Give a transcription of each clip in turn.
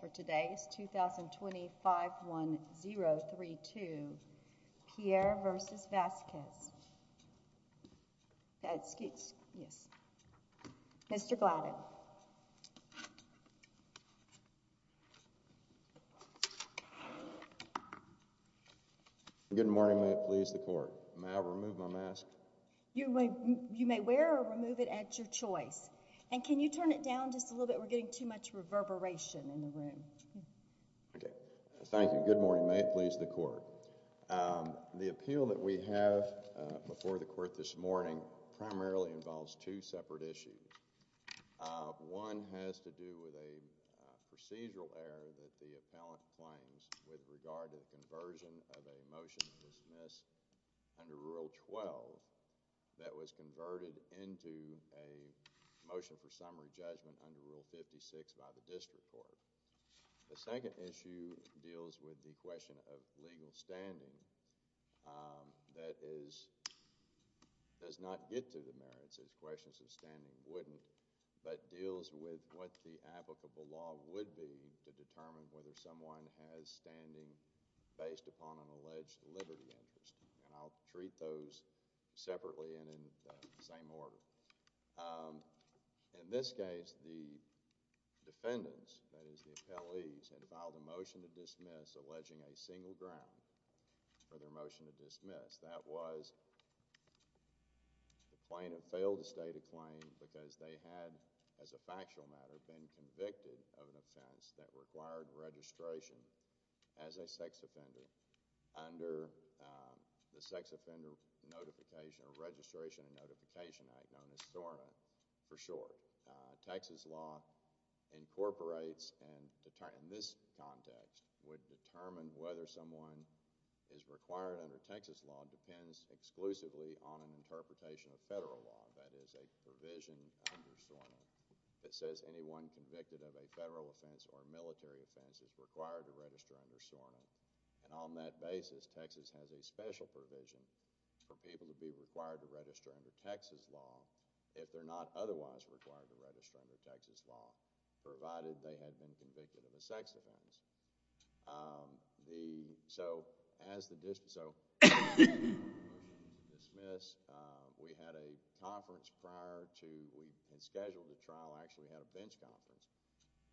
for today's two thousand twenty five one zero three two pierre versus vasquez excuse yes mr gladden good morning may it please the court may i remove my mask you may you may wear or remove it at your choice and can you turn it down just a little bit we're getting too much reverberation in the room okay thank you good morning may it please the court um the appeal that we have before the court this morning primarily involves two separate issues one has to do with a procedural error that the appellant claims with regard to the conversion of a motion to dismiss under rule 12 that was motion for summary judgment under rule 56 by the district court the second issue deals with the question of legal standing that is does not get to the merits as questions of standing wouldn't but deals with what the applicable law would be to determine whether someone has standing based upon an alleged liberty interest and i'll treat those separately and in the same order in this case the defendants that is the appellees had filed a motion to dismiss alleging a single ground for their motion to dismiss that was the plaintiff failed to state a claim because they had as a factual matter been convicted of an offense that required registration as a sex offender under the sex offender notification or registration and notification act known as SORNA for short texas law incorporates and to turn in this context would determine whether someone is required under texas law depends exclusively on an interpretation of federal law that is a provision under SORNA that says anyone convicted of a federal offense or military offense is required to register under SORNA and on that basis texas has a special provision for people to be required to register under texas law if they're not otherwise required to register under texas law provided they had been convicted of a sex offense the so as the district so dismiss we had a conference prior to we had scheduled the trial actually had a bench conference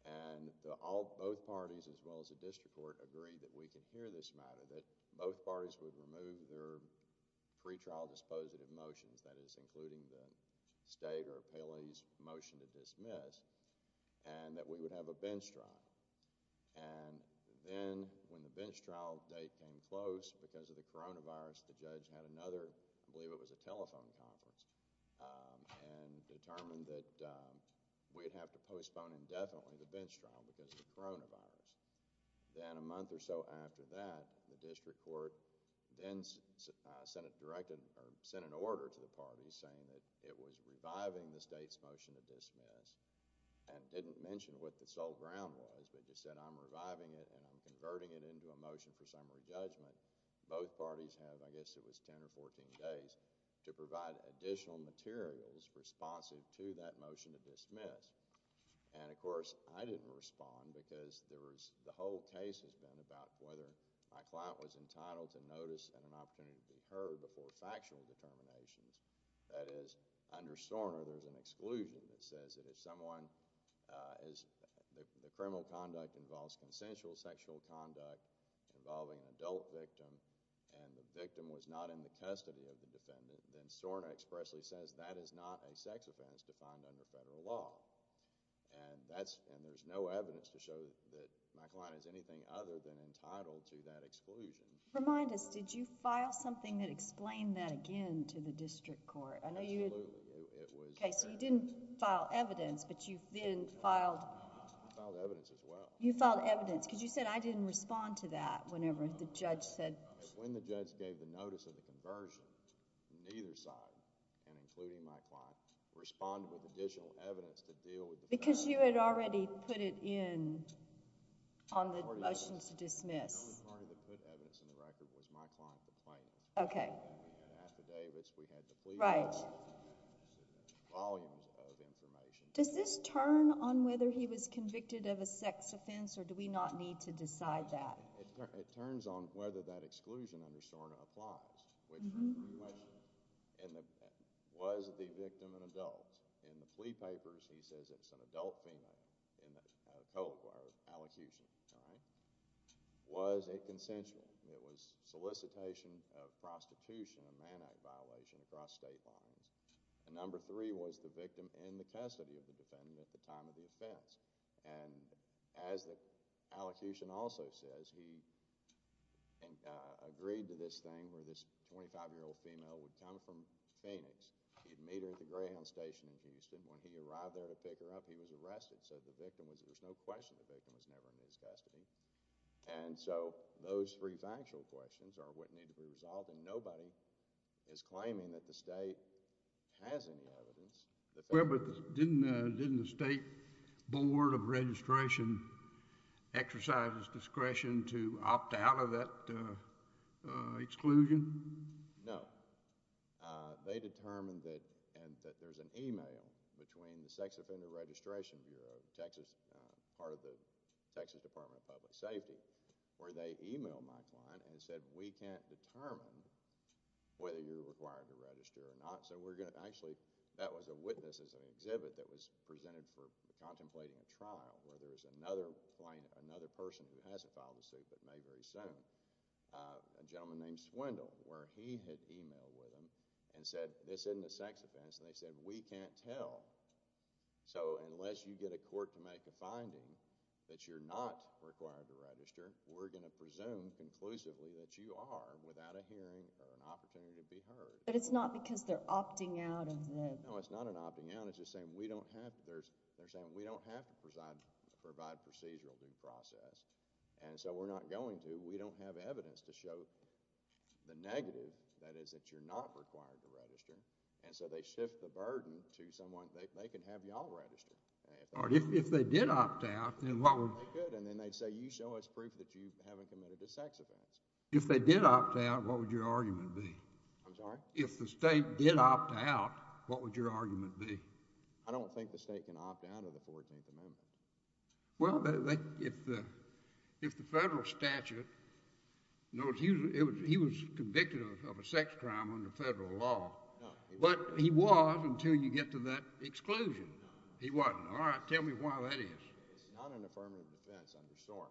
and the all both parties as well as the district court agreed that we could hear this matter that both parties would remove their pre-trial dispositive motions that is including the stager paley's motion to dismiss and that we would have a bench trial and then when the bench trial date came close because of the coronavirus the judge had another i believe it was a telephone conference and determined that we'd have to a month or so after that the district court then senate directed or sent an order to the parties saying that it was reviving the state's motion to dismiss and didn't mention what the sole ground was but just said i'm reviving it and i'm converting it into a motion for summary judgment both parties have i guess it was 10 or 14 days to provide additional materials responsive to that motion to dismiss and of course i didn't respond because there was the whole case has been about whether my client was entitled to notice and an opportunity to be heard before factual determinations that is under sauna there's an exclusion that says that if someone uh is the criminal conduct involves consensual sexual conduct involving an adult victim and the victim was not in the custody of the defendant then sauna expressly says that is defined under federal law and that's and there's no evidence to show that my client is anything other than entitled to that exclusion remind us did you file something that explained that again to the district court i know you it was okay so you didn't file evidence but you then filed filed evidence as well you filed evidence because you said i didn't respond to that whenever the judge said when the judge gave the notice of the conversion neither side and including my client responded with additional evidence to deal with because you had already put it in on the motion to dismiss the only party that put evidence in the record was my client the plaintiff okay at the day which we had the right volumes of information does this turn on whether he was convicted of a sex offense or do we not need to decide that it turns on whether that exclusion under sauna applies which in the was the victim an adult in the plea papers he says it's an adult female in the allocution all right was a consensual it was solicitation of prostitution and man act violation across state lines and number three was the victim in the custody of the defendant at time of the offense and as the allocution also says he and agreed to this thing where this 25 year old female would come from phoenix he'd meet her at the greyhound station in houston when he arrived there to pick her up he was arrested so the victim was there's no question the victim was never in his custody and so those three factual questions are what need to be resolved and nobody is claiming that the state has any evidence well but didn't uh didn't the state board of registration exercise its discretion to opt out of that uh uh exclusion no uh they determined that and that there's an email between the sex offender registration bureau texas uh texas department of public safety where they emailed my client and said we can't determine whether you're required to register or not so we're going to actually that was a witness as an exhibit that was presented for contemplating a trial where there's another plain another person who hasn't filed a suit but may very soon uh a gentleman named swindle where he had emailed with him and said this isn't a sex offense and they said we can't tell so unless you get a court to make a finding that you're not required to register we're going to presume conclusively that you are without a hearing or an opportunity to be heard but it's not because they're opting out of them no it's not an opting out it's just saying we don't have there's they're saying we don't have to provide provide procedural due process and so we're not going to we don't have evidence to show the negative that is that you're not required to register and so they shift the burden to someone they can have y'all register or if they did opt out then what would they good and then they'd say you show us proof that you haven't committed a sex offense if they did opt out what would your argument be i'm sorry if the state did opt out what would your argument be i don't think the state can opt out of the 14th amendment well they if the if the federal statute no it was he was convicted of a sex crime under federal law but he was until you get to that exclusion he wasn't all right tell me why that is it's not an affirmative defense under storm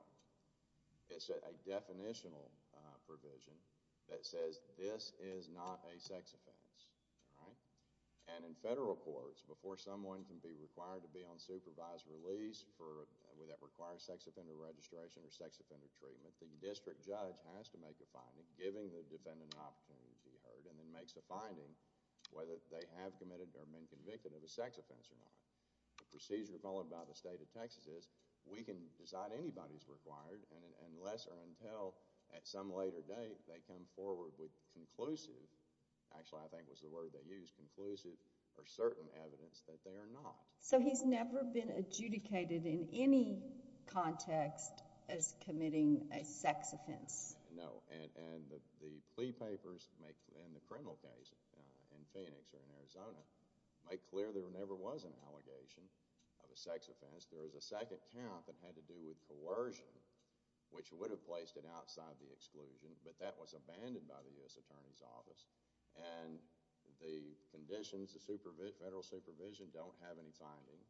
it's a definitional uh provision that says this is not a sex offense all right and in federal courts before someone can be required to be on supervised release for with that required sex treatment the district judge has to make a finding giving the defendant an opportunity to be heard and then makes a finding whether they have committed or been convicted of a sex offense or not the procedure followed by the state of texas is we can decide anybody's required and unless or until at some later date they come forward with conclusive actually i think was the word they use conclusive or certain evidence that they are not so he's never been adjudicated in any context as committing a sex offense no and and the plea papers make in the criminal case in phoenix or in arizona make clear there never was an allegation of a sex offense there is a second count that had to do with coercion which would have placed it outside the exclusion but that was abandoned by the u.s attorney's office and the conditions the supervision federal supervision don't have any finding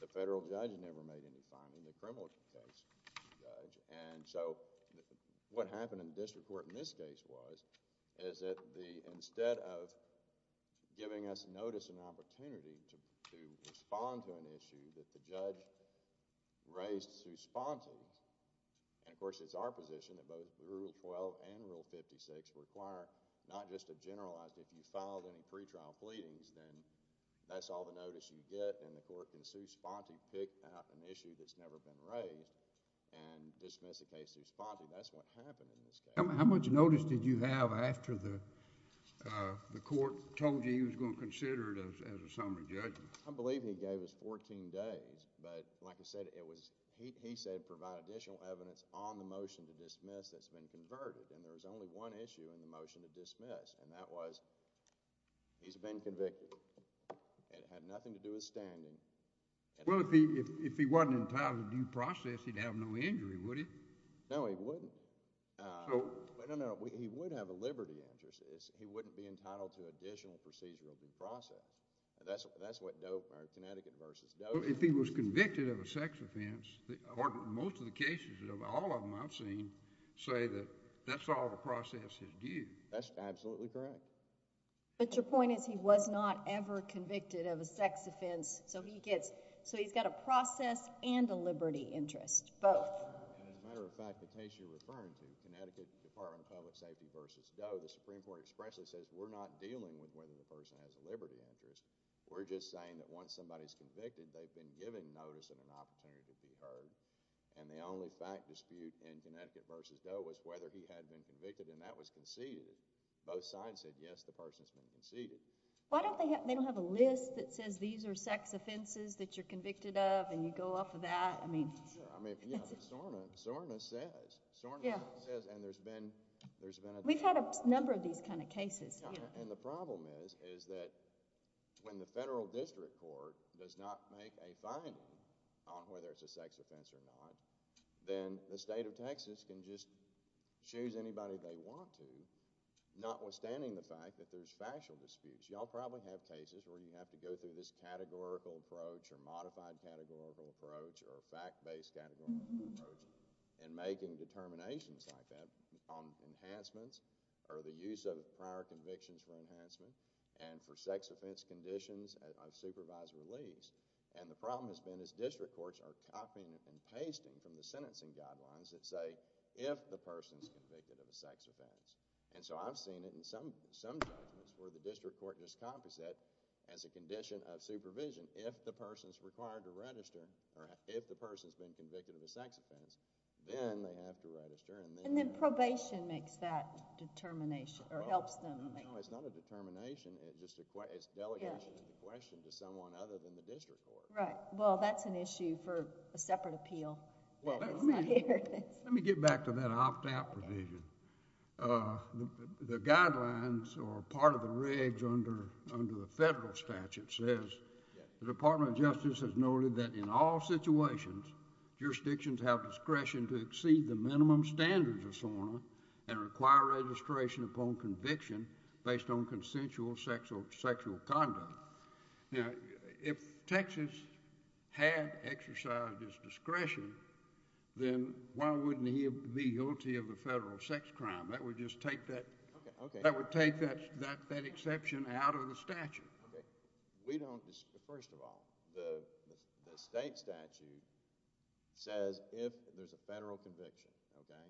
the federal judge never made any finding the criminal case judge and so what happened in the district court in this case was is that the instead of giving us notice and opportunity to to respond to an issue that the judge raised to sponsors and of course it's our position that both rule 12 and rule 56 require not just a generalized if you filed any pre-trial pleadings then that's all the notice you get and the court can sue sponte pick out an issue that's never been raised and dismiss the case to respond to that's what happened in this case how much notice did you have after the uh the court told you he was going to consider it as a summary judgment i believe he gave us 14 days but like i said it was he said provide additional evidence on the motion to dismiss that's been converted and there was only one issue in the motion to dismiss and that was he's been convicted it had nothing to do with standing well if he if he wasn't entitled to due process he'd have no injury would he no he wouldn't uh no no he would have a liberty interest is he wouldn't be entitled to additional procedural due process that's that's what dope or connecticut versus if he was convicted of a sex offense or most of the cases of all of them i've correct but your point is he was not ever convicted of a sex offense so he gets so he's got a process and a liberty interest both and as a matter of fact the case you're referring to connecticut department of public safety versus doe the supreme court expressly says we're not dealing with whether the person has a liberty interest we're just saying that once somebody's convicted they've been given notice of an opportunity to be heard and the only fact dispute in connecticut versus doe was whether he had been convicted and that was conceded both sides said yes the person's been conceded why don't they have they don't have a list that says these are sex offenses that you're convicted of and you go off of that i mean sure i mean sorna says sorna says and there's been there's been we've had a number of these kind of cases and the problem is is that when the federal district court does not make a finding on whether it's a sex offense or not then the state of texas can just choose anybody they want to notwithstanding the fact that there's factual disputes y'all probably have cases where you have to go through this categorical approach or modified categorical approach or fact-based categorical approach and making determinations like that on enhancements or the use of prior convictions for enhancement and for sex offense conditions of supervised release and the problem has been as district courts are copying and pasting from the sentencing guidelines that say if the person's convicted of a sex offense and so i've seen it in some some judgments where the district court just copies it as a condition of supervision if the person's required to register or if the person's been convicted of a sex offense then they have to register and then probation makes that determination or helps them no it's not a determination it's just a question it's delegation of the question to someone other than the district court right well that's an issue for separate appeal well let me get back to that opt-out provision uh the guidelines or part of the regs under under the federal statute says the department of justice has noted that in all situations jurisdictions have discretion to exceed the minimum standards of SORNA and require registration upon conviction based on consensual sexual sexual conduct now if texas had exercised his discretion then why wouldn't he be guilty of the federal sex crime that would just take that that would take that that that exception out of the statute okay we don't first of all the the state statute says if there's a federal conviction okay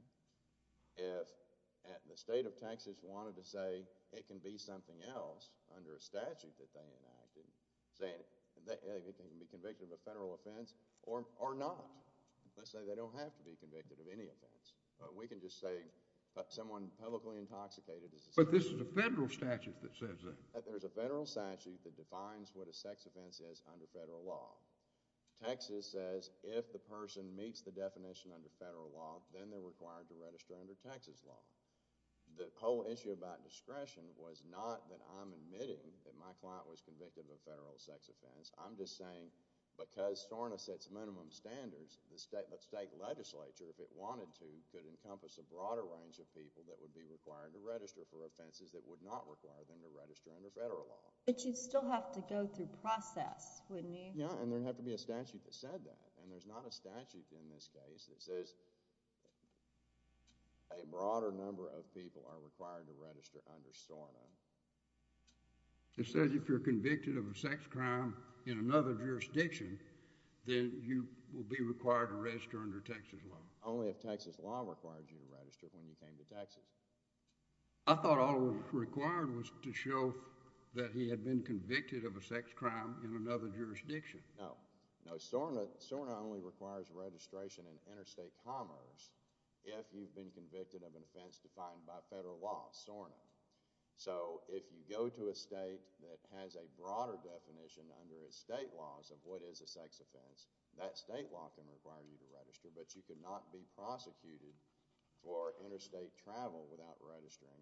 if at the state of texas wanted to say it can be something else under a statute that they enacted saying it can be convicted of a federal offense or or not let's say they don't have to be convicted of any offense but we can just say someone publicly intoxicated but this is a federal statute that says that there's a federal statute that defines what a sex offense is under federal law texas says if the person meets the definition under federal law then they're required to register under texas law the whole issue about discretion was not that i'm admitting that my client was convicted of a federal sex offense i'm just saying because SORNA sets minimum standards the state but state legislature if it wanted to could encompass a broader range of people that would be required to register for offenses that would not require them to register under federal law but you'd still have to go through process wouldn't you yeah and there'd have to be a statute that said that and there's not a statute in this case that says a broader number of people are required to register under SORNA it says if you're convicted of a sex crime in another jurisdiction then you will be required to register under texas law only if texas law requires you to register when you came to texas i thought all required was to show that he had been convicted of a sex crime in another jurisdiction no no SORNA SORNA only requires registration in interstate commerce if you've been convicted of an offense defined by federal law SORNA so if you go to a state that has a broader definition under its state laws of what is a sex offense that state law can require you to register but you could not be prosecuted for interstate travel without registering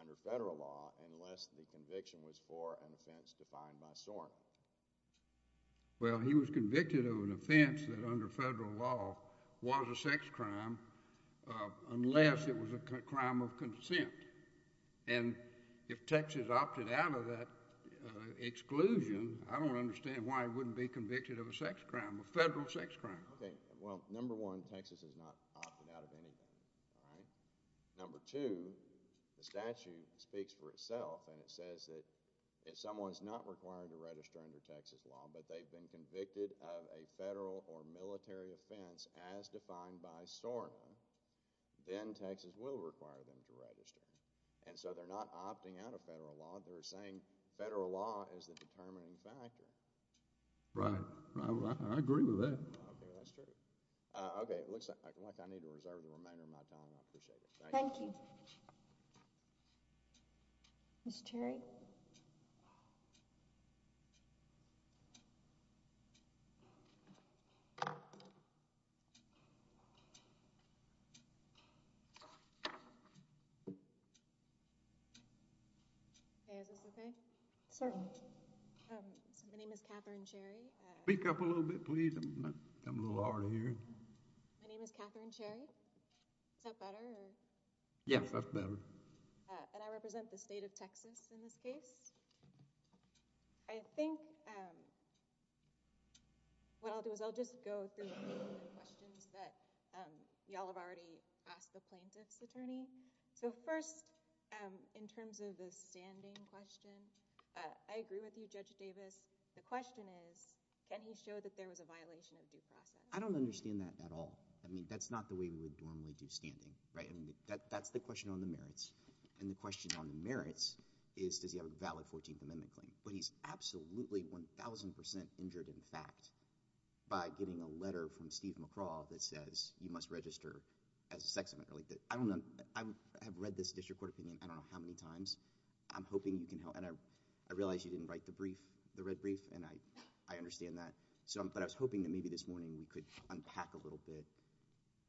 under federal law unless the conviction was for an offense defined by SORNA well he was convicted of an offense that under federal law was a sex crime uh unless it was a crime of consent and if texas opted out of that uh exclusion i don't understand why he wouldn't be convicted of a sex crime a federal sex crime okay well number one texas has not opted out of anything all right number two the statute speaks for itself and it says that if someone's not required to register under texas law but they've been convicted of a federal or military offense as defined by SORNA then texas will require them to register and so they're not opting out of federal law they're saying federal law is the determining factor right i agree with that okay that's true uh okay it looks like i need to reserve the remainder of my time i appreciate it thank you okay mr cherry okay is this okay certainly um my name is katherine cherry speak up a little bit please i'm a little hard to hear my name is katherine cherry is that better yes that's better uh and i represent the state of texas in this case i think um what i'll do is i'll just go through the questions that um y'all have already asked the plaintiff's attorney so first um in terms of the standing question uh i agree with you judge davis the question is can he show that was a violation of due process i don't understand that at all i mean that's not the way we would normally do standing right i mean that that's the question on the merits and the question on the merits is does he have a valid 14th amendment claim but he's absolutely 1 000 injured in fact by getting a letter from steve mccraw that says you must register as a sex offender like that i don't know i have read this district court opinion i don't know how many times i'm hoping you can help i realize you didn't write the brief the red brief and i i understand that so but i was hoping that maybe this morning we could unpack a little bit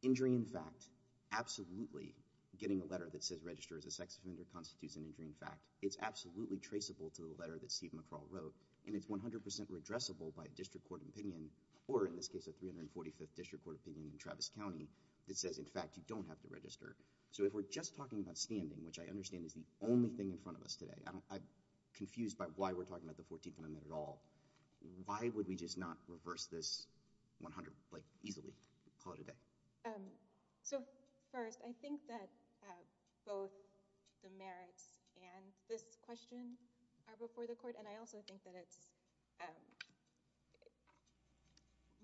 injury in fact absolutely getting a letter that says register as a sex offender constitutes an injury in fact it's absolutely traceable to the letter that steve mccraw wrote and it's 100 addressable by a district court opinion or in this case a 345th district court opinion in travis county that says in fact you don't have to register so if we're just talking about standing which i understand is the only thing in front of us today i'm confused by why we're talking about the 14th amendment at all why would we just not reverse this 100 like easily call it a day um so first i think that both the merits and this question are before the court and i also think that it's um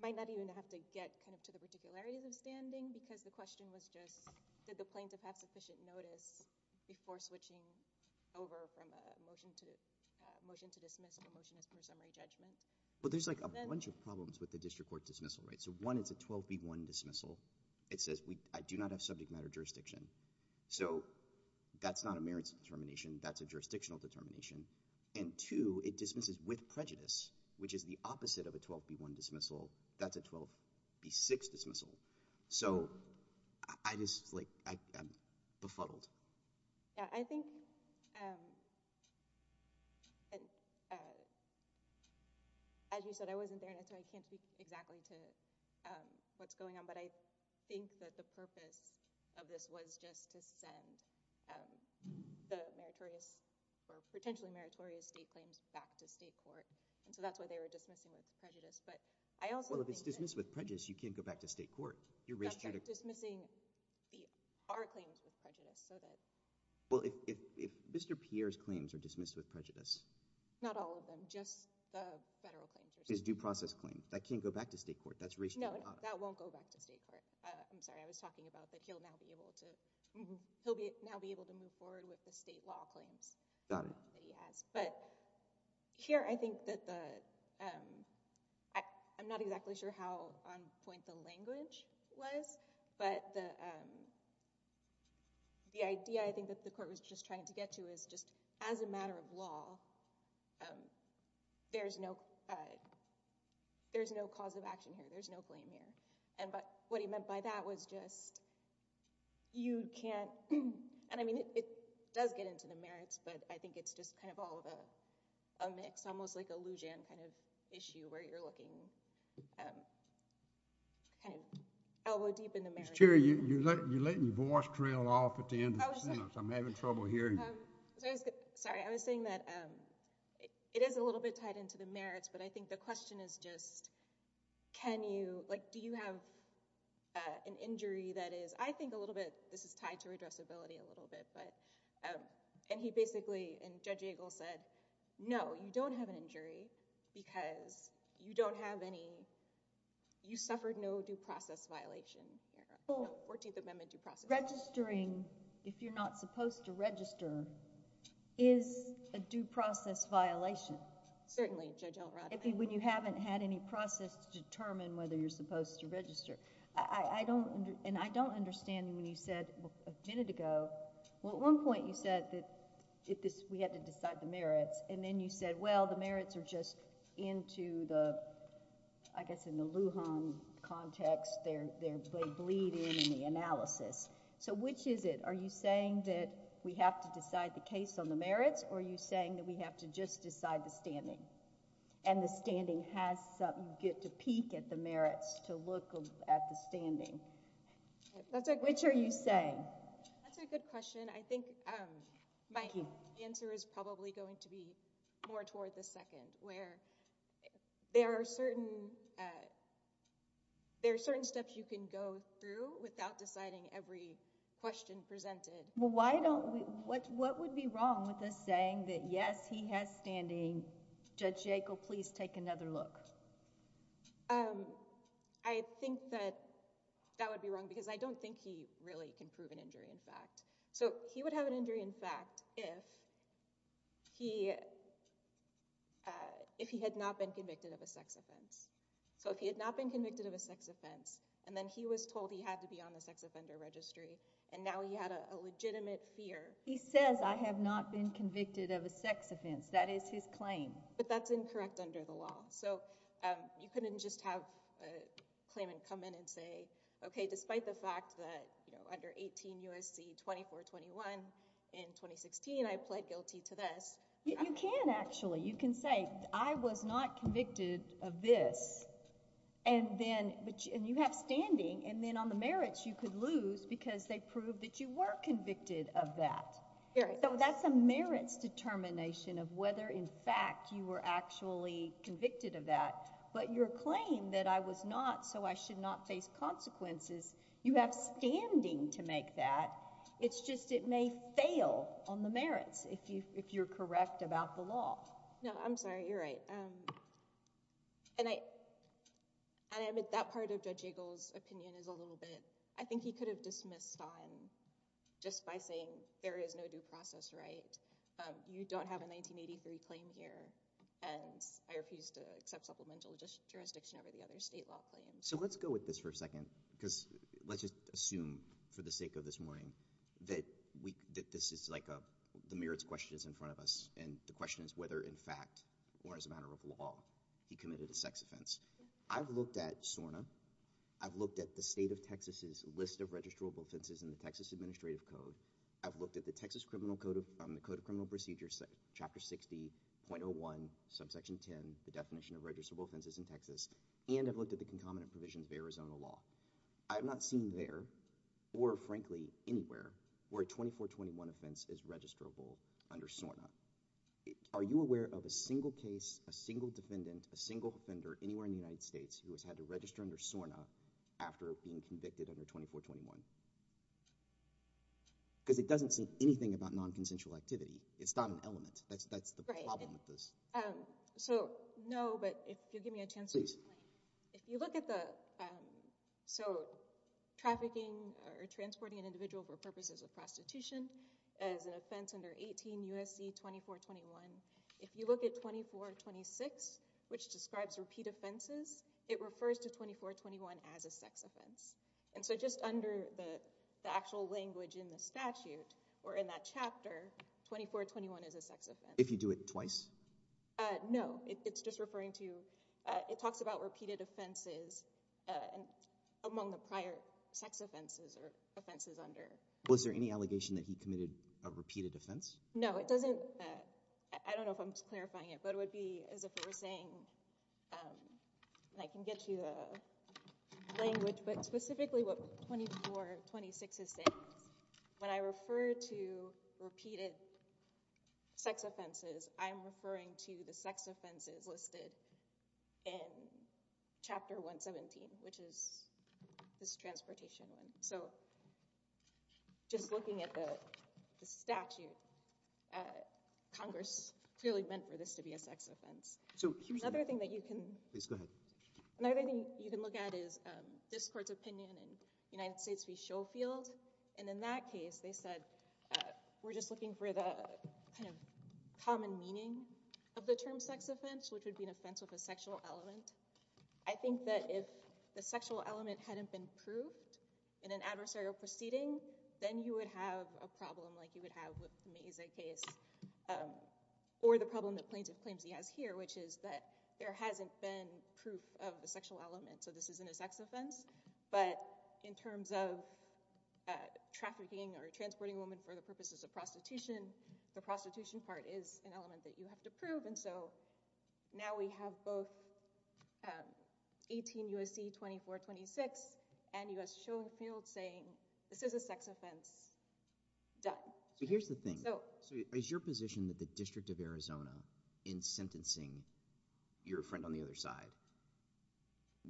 might not even have to get kind of to the particularities of standing because the motion to motion to dismiss the motion is for summary judgment but there's like a bunch of problems with the district court dismissal right so one it's a 12b1 dismissal it says we i do not have subject matter jurisdiction so that's not a merits determination that's a jurisdictional determination and two it dismisses with prejudice which is the opposite of a 12b1 dismissal that's b6 dismissal so i just like i'm befuddled yeah i think um as you said i wasn't there and i can't speak exactly to um what's going on but i think that the purpose of this was just to send um the meritorious or potentially meritorious state claims back to state court and so that's why they were dismissing with prejudice but i also well if it's dismissed with prejudice you can't go back to state court you're just missing the our claims with prejudice so that well if if mr pierre's claims are dismissed with prejudice not all of them just the federal claims is due process claim that can't go back to state court that's no no that won't go back to state court i'm sorry i was talking about that he'll now be able to he'll be now be able to move forward with the state law claims got it that he has but here i think that the um i i'm not exactly sure how on point the language was but the um the idea i think that the court was just trying to get to is just as a matter of law um there's no there's no cause of action here there's no claim here and but what he meant by that was just you can't and i mean it does get into the merits but i think it's just kind of all the a mix almost like a lugeon kind of issue where you're looking um kind of elbow deep in the marriage you're you're letting your voice trail off at the end of the sentence i'm having trouble hearing sorry i was saying that um it is a little bit tied into the merits but i think the question is just can you like do you have uh an injury that is i think a little bit this is tied to said no you don't have an injury because you don't have any you suffered no due process violation 14th amendment due process registering if you're not supposed to register is a due process violation certainly judge elrod when you haven't had any process to determine whether you're supposed to register i i don't and i don't understand when you said a minute ago well at one point you said that if this we had to decide the merits and then you said well the merits are just into the i guess in the lujan context they're they bleed in the analysis so which is it are you saying that we have to decide the case on the merits or are you saying that we have to just decide the standing and the standing has something you get to peek at the question i think um my answer is probably going to be more toward the second where there are certain uh there are certain steps you can go through without deciding every question presented well why don't we what what would be wrong with us saying that yes he has standing judge jacob please take another look um i think that that would be wrong because i don't think he really can prove an injury in fact so he would have an injury in fact if he uh if he had not been convicted of a sex offense so if he had not been convicted of a sex offense and then he was told he had to be on the sex offender registry and now he had a legitimate fear he says i have not been convicted of a sex offense that is his claim but that's incorrect under the law so um you couldn't just have a claimant come in and say okay despite the fact that you know under 18 usc 24 21 in 2016 i pled guilty to this you can actually you can say i was not convicted of this and then but and you have standing and then on the merits you could lose because they proved that you were convicted of that so that's a merits determination of whether in fact you were actually convicted of that but your claim that i was not so i should not face consequences you have standing to make that it's just it may fail on the merits if you if you're correct about the law no i'm sorry you're right um and i and i admit that part of judge jiggles opinion is a little bit i think he could have dismissed on just by saying there is no due process right um you don't have a 1983 claim here and i refuse to accept supplemental jurisdiction over the other state law claims so let's go with this for a second because let's just assume for the sake of this morning that we that this is like a the merits question is in front of us and the question is whether in fact or as a matter of law he committed a sex offense i've looked at sorna i've looked at the state of texas's list of registrable offenses in the texas administrative code i've looked at the texas criminal code of the chapter 60.01 subsection 10 the definition of registrable offenses in texas and i've looked at the concomitant provisions of arizona law i have not seen there or frankly anywhere where 24 21 offense is registrable under sorna are you aware of a single case a single defendant a single offender anywhere in the united states who has had to register under sorna after being convicted under 24 21 because it doesn't seem anything about non-consensual activity it's not an element that's the problem with this um so no but if you give me a chance please if you look at the um so trafficking or transporting an individual for purposes of prostitution as an offense under 18 usc 24 21 if you look at 24 26 which describes repeat offenses it refers to 24 21 as a sex offense and so just under the actual language in the statute or in that chapter 24 21 is a if you do it twice uh no it's just referring to it talks about repeated offenses among the prior sex offenses or offenses under was there any allegation that he committed a repeated offense no it doesn't i don't know if i'm clarifying it but it would be as if we're saying um i can get you the language but specifically what 24 26 is saying when i refer to repeated sex offenses i'm referring to the sex offenses listed in chapter 117 which is this transportation one so just looking at the the statute uh congress clearly meant for this to be a sex offense so another thing that you can please go ahead another thing you can look at is um in united states v showfield and in that case they said uh we're just looking for the kind of common meaning of the term sex offense which would be an offense with a sexual element i think that if the sexual element hadn't been proved in an adversarial proceeding then you would have a problem like you would have with me as a case um or the problem that plaintiff claims he has here which is that there hasn't been proof of the sexual element so this isn't a sex offense but in terms of uh trafficking or transporting a woman for the purposes of prostitution the prostitution part is an element that you have to prove and so now we have both 18 usc 24 26 and u.s showfield saying this is a sex offense done so here's the thing so so is your position that the district of arizona in sentencing your friend on the other side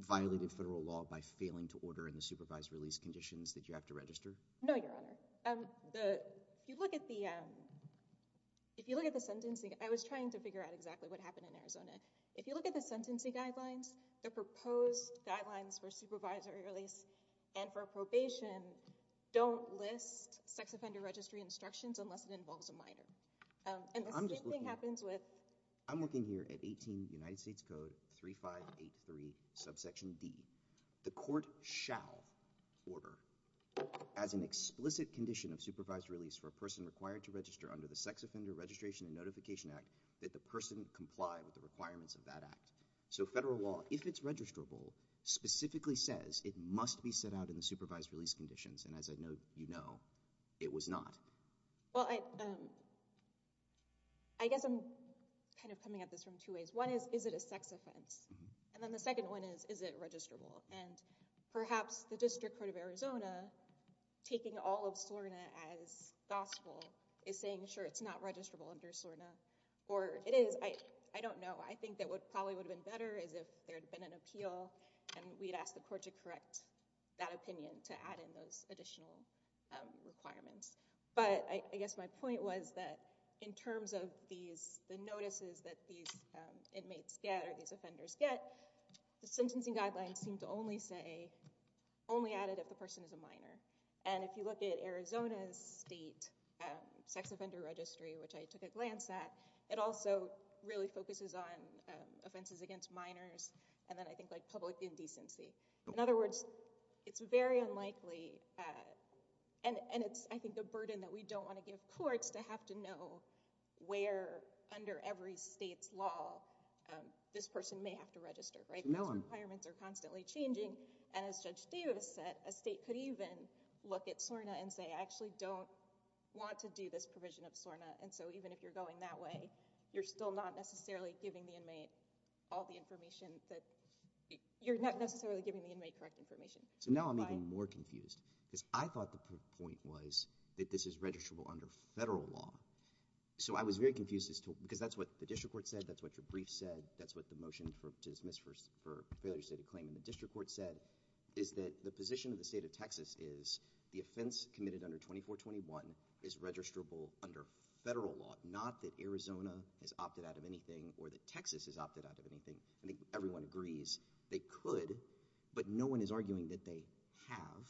violated federal law by failing to order in the supervised release conditions that you have to register no your honor um the if you look at the um if you look at the sentencing i was trying to figure out exactly what happened in arizona if you look at the sentencing guidelines the proposed guidelines for supervisory release and for probation don't list sex offender registry instructions unless it involves a minor um and the same thing happens with i'm looking here at 18 united states code 3583 subsection d the court shall order as an explicit condition of supervised release for a person required to register under the sex offender registration and notification act that the person comply with the requirements of that act so federal law if it's registrable specifically says it must be set out in the supervised release conditions and as i know you know it was not well i um i guess i'm kind of coming at this from two ways one is is it a sex offense and then the second one is is it registrable and perhaps the district court of arizona taking all of sorna as gospel is saying sure it's not registrable under sorna or it is i i don't know i think that would probably would have been better as if there had been an appeal and we'd ask the court to correct that opinion to add in those additional requirements but i guess my point was that in terms of these the notices that these inmates get or these offenders get the sentencing guidelines seem to only say only added if the person is a minor and if you look at arizona's state sex offender registry which i took a glance it also really focuses on offenses against minors and then i think like public indecency in other words it's very unlikely uh and and it's i think the burden that we don't want to give courts to have to know where under every state's law this person may have to register right those requirements are constantly changing and as judge davis said a state could even look at sorna and say i actually don't want to do this provision of sorna and so even if you're going that way you're still not necessarily giving the inmate all the information that you're not necessarily giving the inmate correct information so now i'm even more confused because i thought the point was that this is registrable under federal law so i was very confused as to because that's what the district court said that's what your brief said that's what the motion for to dismiss first for failure stated claim in the district court said is that the position of the state of texas is the offense committed under 24 21 is registrable under federal law not that arizona has opted out of anything or that texas has opted out of anything i think everyone agrees they could but no one is arguing that they have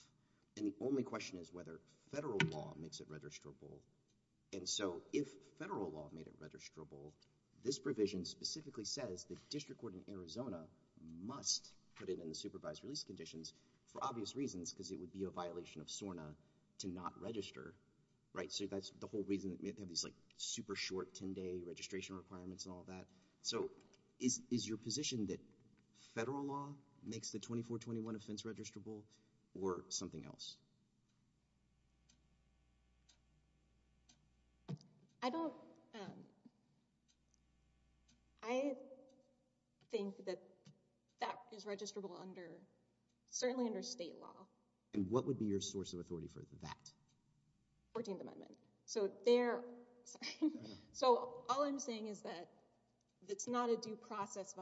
and the only question is whether federal law makes it registrable and so if federal law made it registrable this provision specifically says the district court in arizona must put it in supervised release conditions for obvious reasons because it would be a violation of sorna to not register right so that's the whole reason that we have these like super short 10 day registration requirements and all that so is is your position that federal law makes the 24 21 offense registrable or something else i don't um i think that that is registrable under certainly under state law and what would be your source of authority for that 14th amendment so they're so all i'm saying is that it's not a sex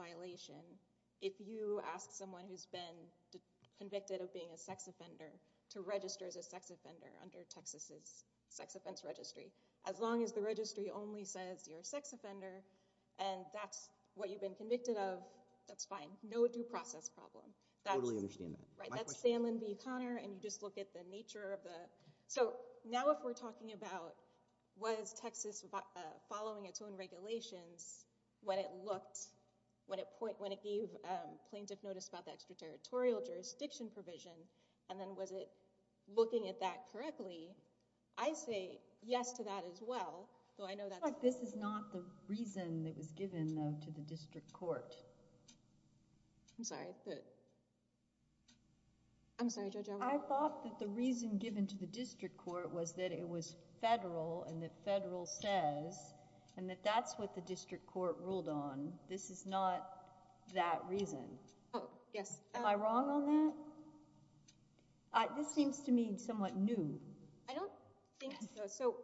offender to register as a sex offender under texas's sex offense registry as long as the registry only says you're a sex offender and that's what you've been convicted of that's fine no due process problem that's totally understand that right that's stanley v connor and you just look at the nature of the so now if we're talking about was texas following its own regulations when it looked when it point when it gave plaintiff notice about the extraterritorial jurisdiction provision and then was it looking at that correctly i say yes to that as well though i know that this is not the reason that was given though to the district court i'm sorry but i'm sorry judge i thought that the reason given to the district court was that it was federal and that federal says and that that's what the district court ruled on this is not that reason oh yes am i wrong on that uh this seems to me somewhat new i don't think so so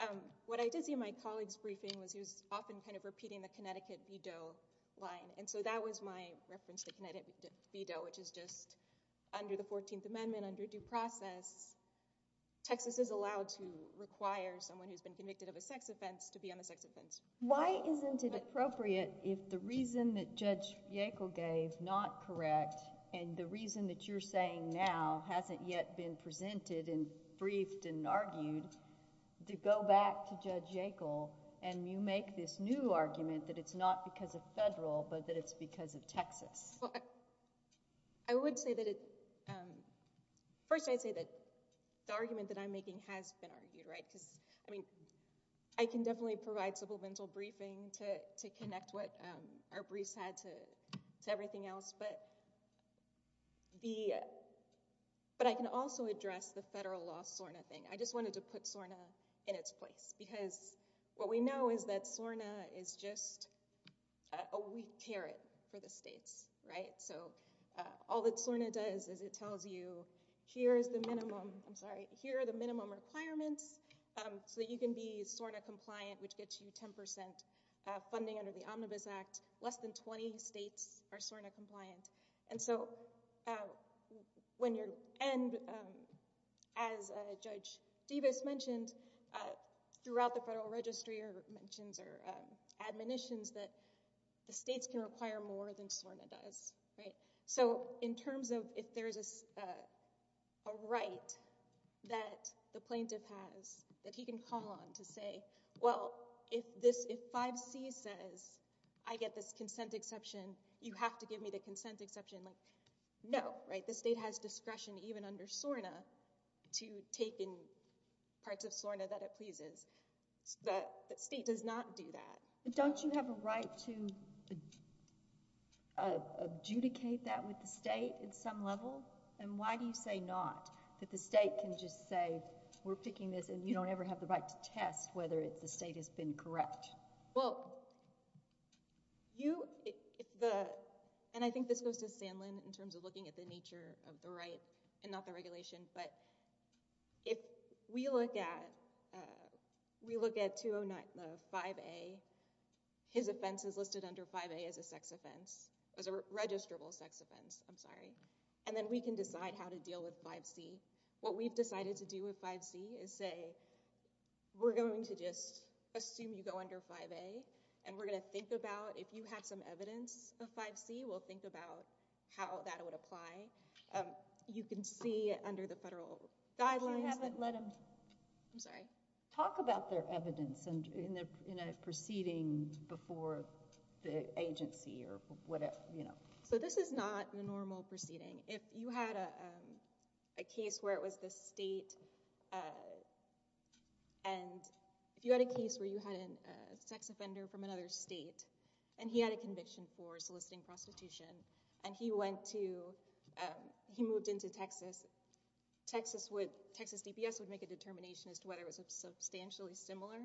um what i did see my colleague's briefing was he was often kind of repeating the connecticut veto line and so that was my reference to connecticut veto which is just under the 14th amendment under due process texas is allowed to require someone who's been convicted of a sex offense to be on judge yackel gave not correct and the reason that you're saying now hasn't yet been presented and briefed and argued to go back to judge yackel and you make this new argument that it's not because of federal but that it's because of texas i would say that it um first i'd say that the argument that i'm making has been argued right because i mean i can definitely provide mental briefing to to connect what um our briefs had to to everything else but the but i can also address the federal law sorna thing i just wanted to put sorna in its place because what we know is that sorna is just a weak carrot for the states right so uh all that sorna does is it tells you here's the minimum i'm sorry here are the 10 funding under the omnibus act less than 20 states are sorna compliant and so when you're and um as a judge davis mentioned uh throughout the federal registry or mentions or admonitions that the states can require more than sorna does right so in terms of if there's a a right that the plaintiff has that he can call on to say well if this if 5c says i get this consent exception you have to give me the consent exception like no right the state has discretion even under sorna to take in parts of sorna that it pleases the state does not do that don't you have a right to uh adjudicate that with the state at some level and why do you say not that the state can just say we're picking this and you don't ever have the right to test whether it's the state has been correct well you if the and i think this goes to sandlin in terms of looking at the nature of the right and not the regulation but if we look at uh we look at 209 the 5a his offense is listed under 5a as a sex offense as a registrable sex offense i'm sorry and then we can decide how to deal with 5c what we've decided to do with 5c is say we're going to just assume you go under 5a and we're going to think about if you have some evidence of 5c we'll think about how that would apply you can see under the federal guidelines i haven't let them i'm sorry talk about their evidence and in a proceeding before the agency or whatever you know so this is not the normal proceeding if you had a a case where it was the state uh and if you had a case where you had a sex offender from another state and he had a conviction for soliciting prostitution and he went to um he moved into texas texas would texas dps would make a determination as to whether it was a substantially similar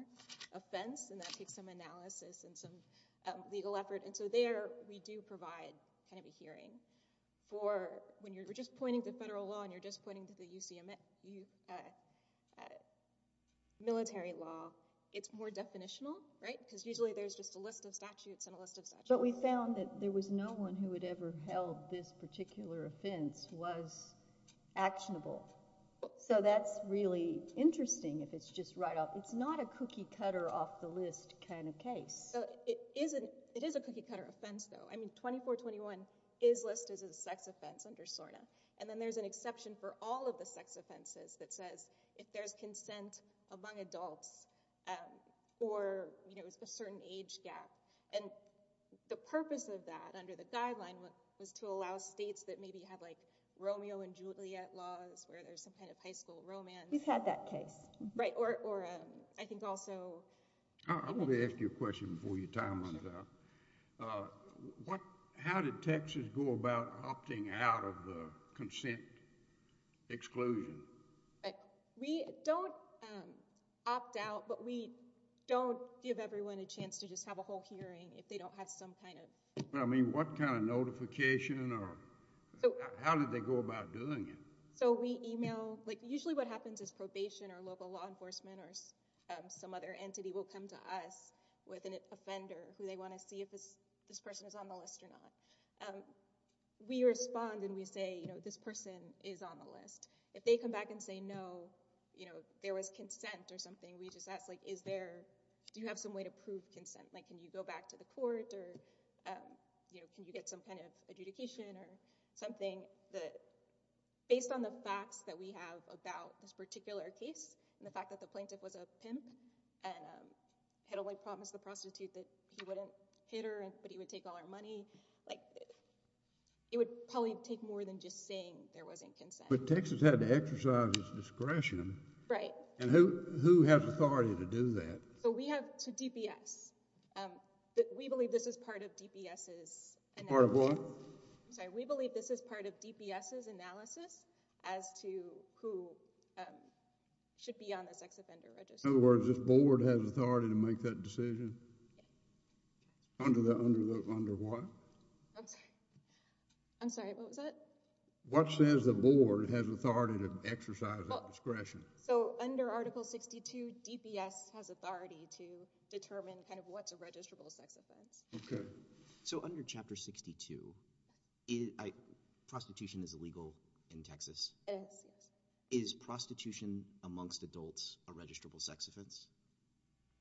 offense and that takes some analysis and some legal effort and so there we do provide kind of a hearing for when you're just pointing to federal law and you're just pointing to the ucm you uh military law it's more definitional right because usually there's just a list of statutes and a list of such but we found that there was no one who would ever held this particular offense was actionable so that's really interesting if it's just right off it's not a cookie cutter off the list kind of case so it isn't it is a cookie cutter offense though i mean 24 21 is listed as a sex offense under sorna and then there's an exception for all of the sex offenses that says if there's consent among adults um or you know it's a certain age gap and the purpose of that under the guideline was to allow states that maybe have like romeo and juliet laws where there's some kind of high school romance we've had that case right or or um i think also i want to ask you a question before your time runs out uh what how did texas go about opting out of the consent exclusion we don't um opt out but we don't give everyone a chance to just have a whole hearing if they don't have some kind of i mean what kind of notification or how did they go about doing it so we email like usually what happens is probation or local law enforcement or some other entity will come to us with an offender who they want to see if this this person is on the list or not um we respond and we say you know this person is on the list if they come back and say no you know there was consent or something we just ask like is there do you have some way to prove consent like can you go back to the court or um you know can you get some kind of adjudication or something that based on the facts that we have about this particular case and the fact that the plaintiff was a pimp and um had only promised the prostitute that he wouldn't hit her and but he would take all our money like it would probably take more than just saying there wasn't consent but texas had to exercise his discretion right and who who has authority to do that so we have to dps um but we believe this is part of dps's and part of what i'm sorry we believe this is part of dps's analysis as to who um should be on the sex offender register in other words this board has authority to make that decision under the under the under what i'm sorry i'm sorry what was that what says the board has authority to exercise discretion so under article 62 dps has authority to determine kind of what's a registrable sex offense okay so under chapter 62 is prostitution is illegal in texas is prostitution amongst adults a registrable sex offense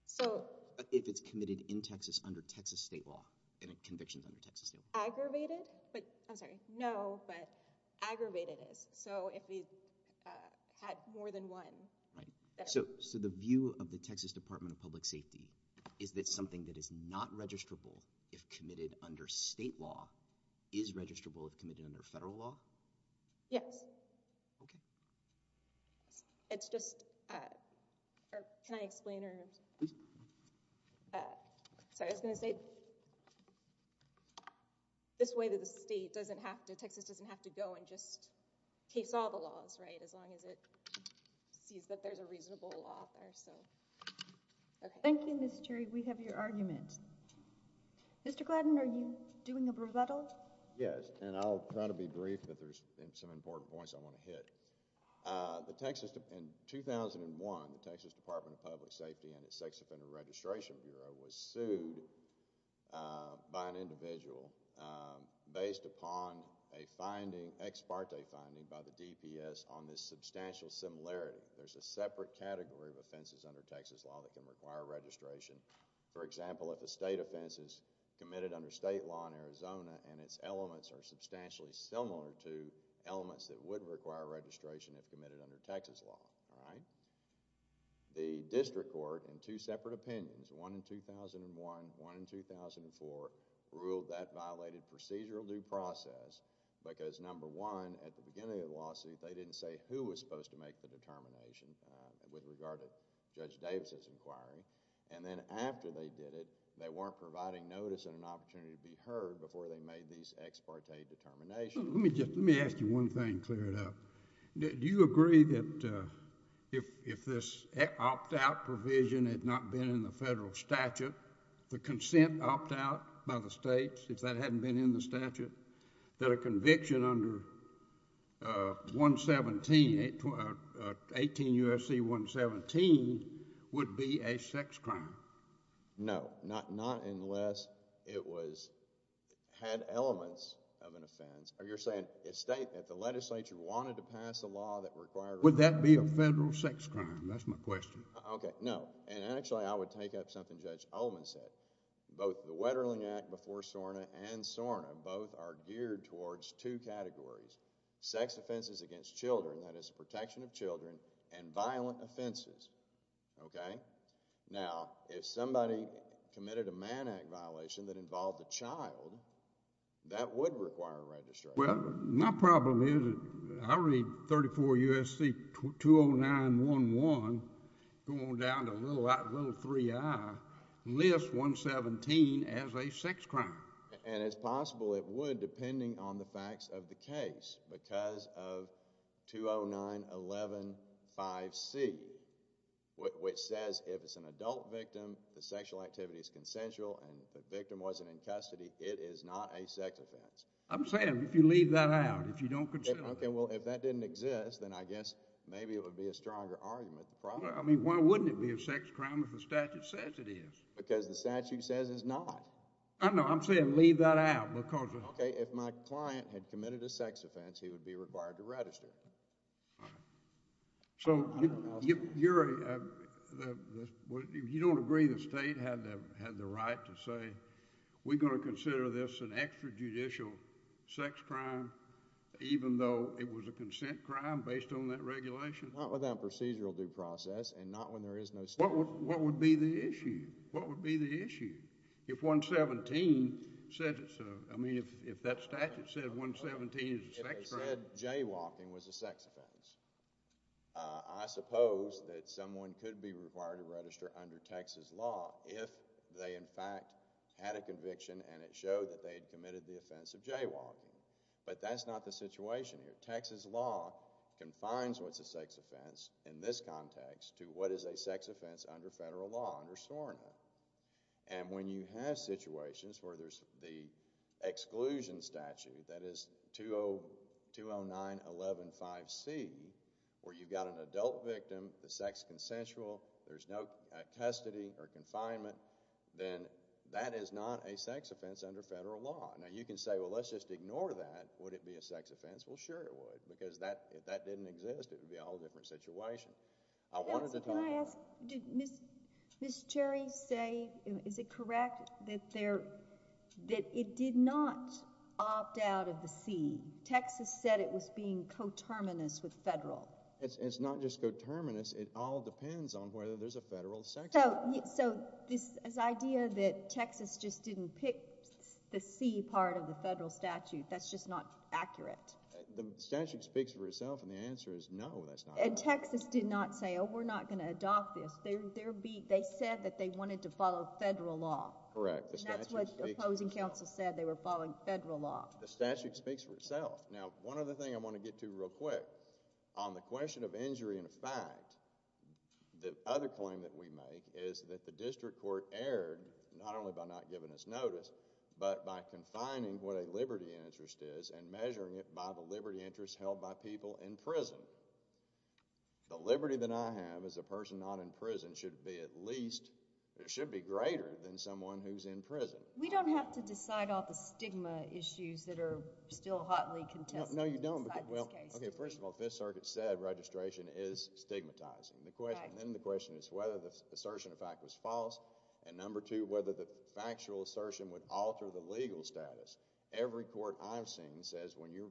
so if it's committed in texas under texas state law and convictions under texas aggravated but i'm sorry no but aggravated is so if he had more than one right so so the view of the texas department of public safety is that something that is not registrable if committed under state law is registrable if committed under federal law yes okay it's just uh or can i explain or sorry i was going to say okay this way that the state doesn't have to texas doesn't have to go and just case all the laws right as long as it sees that there's a reasonable law there so okay thank you miss cherry we have your argument mr gladden are you doing a rebuttal yes and i'll try to be brief that there's some important points i want to hit uh the texas in 2001 the texas department of public safety and its sex offender registration bureau was sued by an individual based upon a finding ex parte finding by the dps on this substantial similarity there's a separate category of offenses under texas law that can require registration for example if a state offense is committed under state law in arizona and its elements are substantially similar to elements that would require registration if one in 2001 one in 2004 ruled that violated procedural due process because number one at the beginning of the lawsuit they didn't say who was supposed to make the determination with regard to judge davis's inquiry and then after they did it they weren't providing notice and an opportunity to be heard before they made these ex parte determination let me just let me federal statute the consent opt out by the states if that hadn't been in the statute that a conviction under uh 117 18 usc 117 would be a sex crime no not not unless it was had elements of an offense or you're saying a state that the legislature wanted to pass a law that required would that be a federal sex crime that's my question okay no and actually i would take up something judge oldman said both the wetterling act before sorna and sorna both are geared towards two categories sex offenses against children that is protection of children and violent offenses okay now if somebody committed a man act violation that involved the child that would require a registrar well my problem is i read 34 usc 209 11 going down to a little little 3i list 117 as a sex crime and it's possible it would depending on the facts of the case because of 209 11 5c which says if it's an adult victim the sexual activity is consensual and the victim wasn't in custody it is not a sex offense i'm saying if you leave that out if you don't consider okay well if that didn't exist then i guess maybe it would be a stronger argument the why wouldn't it be a sex crime if the statute says it is because the statute says it's not i know i'm saying leave that out because okay if my client had committed a sex offense he would be required to register so you you're the you don't agree the state had the had the right to say we're going to consider this an extra judicial sex crime even though it was a consent crime based on that regulation not without procedural due process and not when there is no what would what would be the issue what would be the issue if 117 said i mean if if that statute said 117 is jaywalking was a sex offense i suppose that someone could be required to register under texas law if they in fact had a conviction and it showed that they had committed the offense of but that's not the situation here texas law confines what's a sex offense in this context to what is a sex offense under federal law under sorena and when you have situations where there's the exclusion statute that is 20 209 11 5c where you've got an adult victim the sex consensual there's no custody or confinement then that is not a sex offense under federal law now you can say well let's just ignore that would it be a sex offense well sure it would because that if that didn't exist it would be a whole different situation i wanted to ask did miss miss cherry say is it correct that there that it did not opt out of the c texas said it was being coterminous with federal it's it's not just coterminous it all depends on whether there's a federal so this idea that texas just didn't pick the c part of the federal statute that's just not accurate the statute speaks for itself and the answer is no that's not and texas did not say oh we're not going to adopt this they're they're beat they said that they wanted to follow federal law correct that's what opposing counsel said they were following federal law the statute speaks for itself now one other thing i want to get to real quick on the question of injury in fact the other claim that we make is that the district court erred not only by not giving us notice but by confining what a liberty interest is and measuring it by the liberty interest held by people in prison the liberty that i have as a person not in prison should be at least it should be greater than someone who's in prison we don't have to decide all the stigma issues that are still hotly contested no you don't well okay first of all fifth circuit said registration is stigmatizing the question then the question is whether the assertion of fact was false and number two whether the factual assertion would alter the legal status every court i've seen says when you're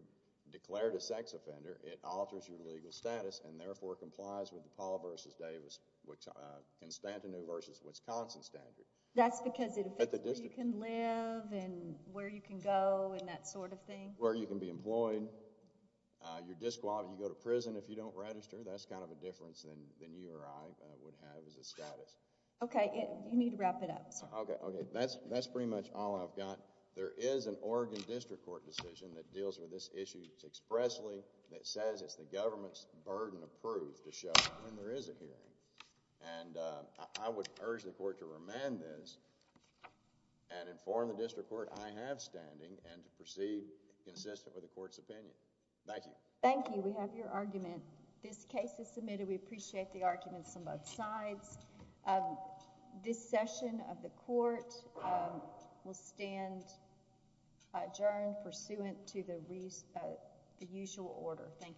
declared a sex offender it alters your legal status and therefore complies with the paul versus davis which uh constantin versus wisconsin standard that's because it can live and where you can go and that sort of thing where you can be employed uh you're disqualified you go to prison if you don't register that's kind of a difference than than you or i would have as a status okay you need to wrap it up okay okay that's that's pretty much all i've got there is an oregon district court decision that deals with this issue it's expressly that says it's the government's burden of proof to show when there is a hearing and uh i would urge the court to remand this and inform the district court i have standing and to proceed consistent with the court's opinion thank you thank you we have your argument this case is submitted we appreciate the arguments from both sides this session of the court will stand adjourned pursuant to the reason the usual order thank you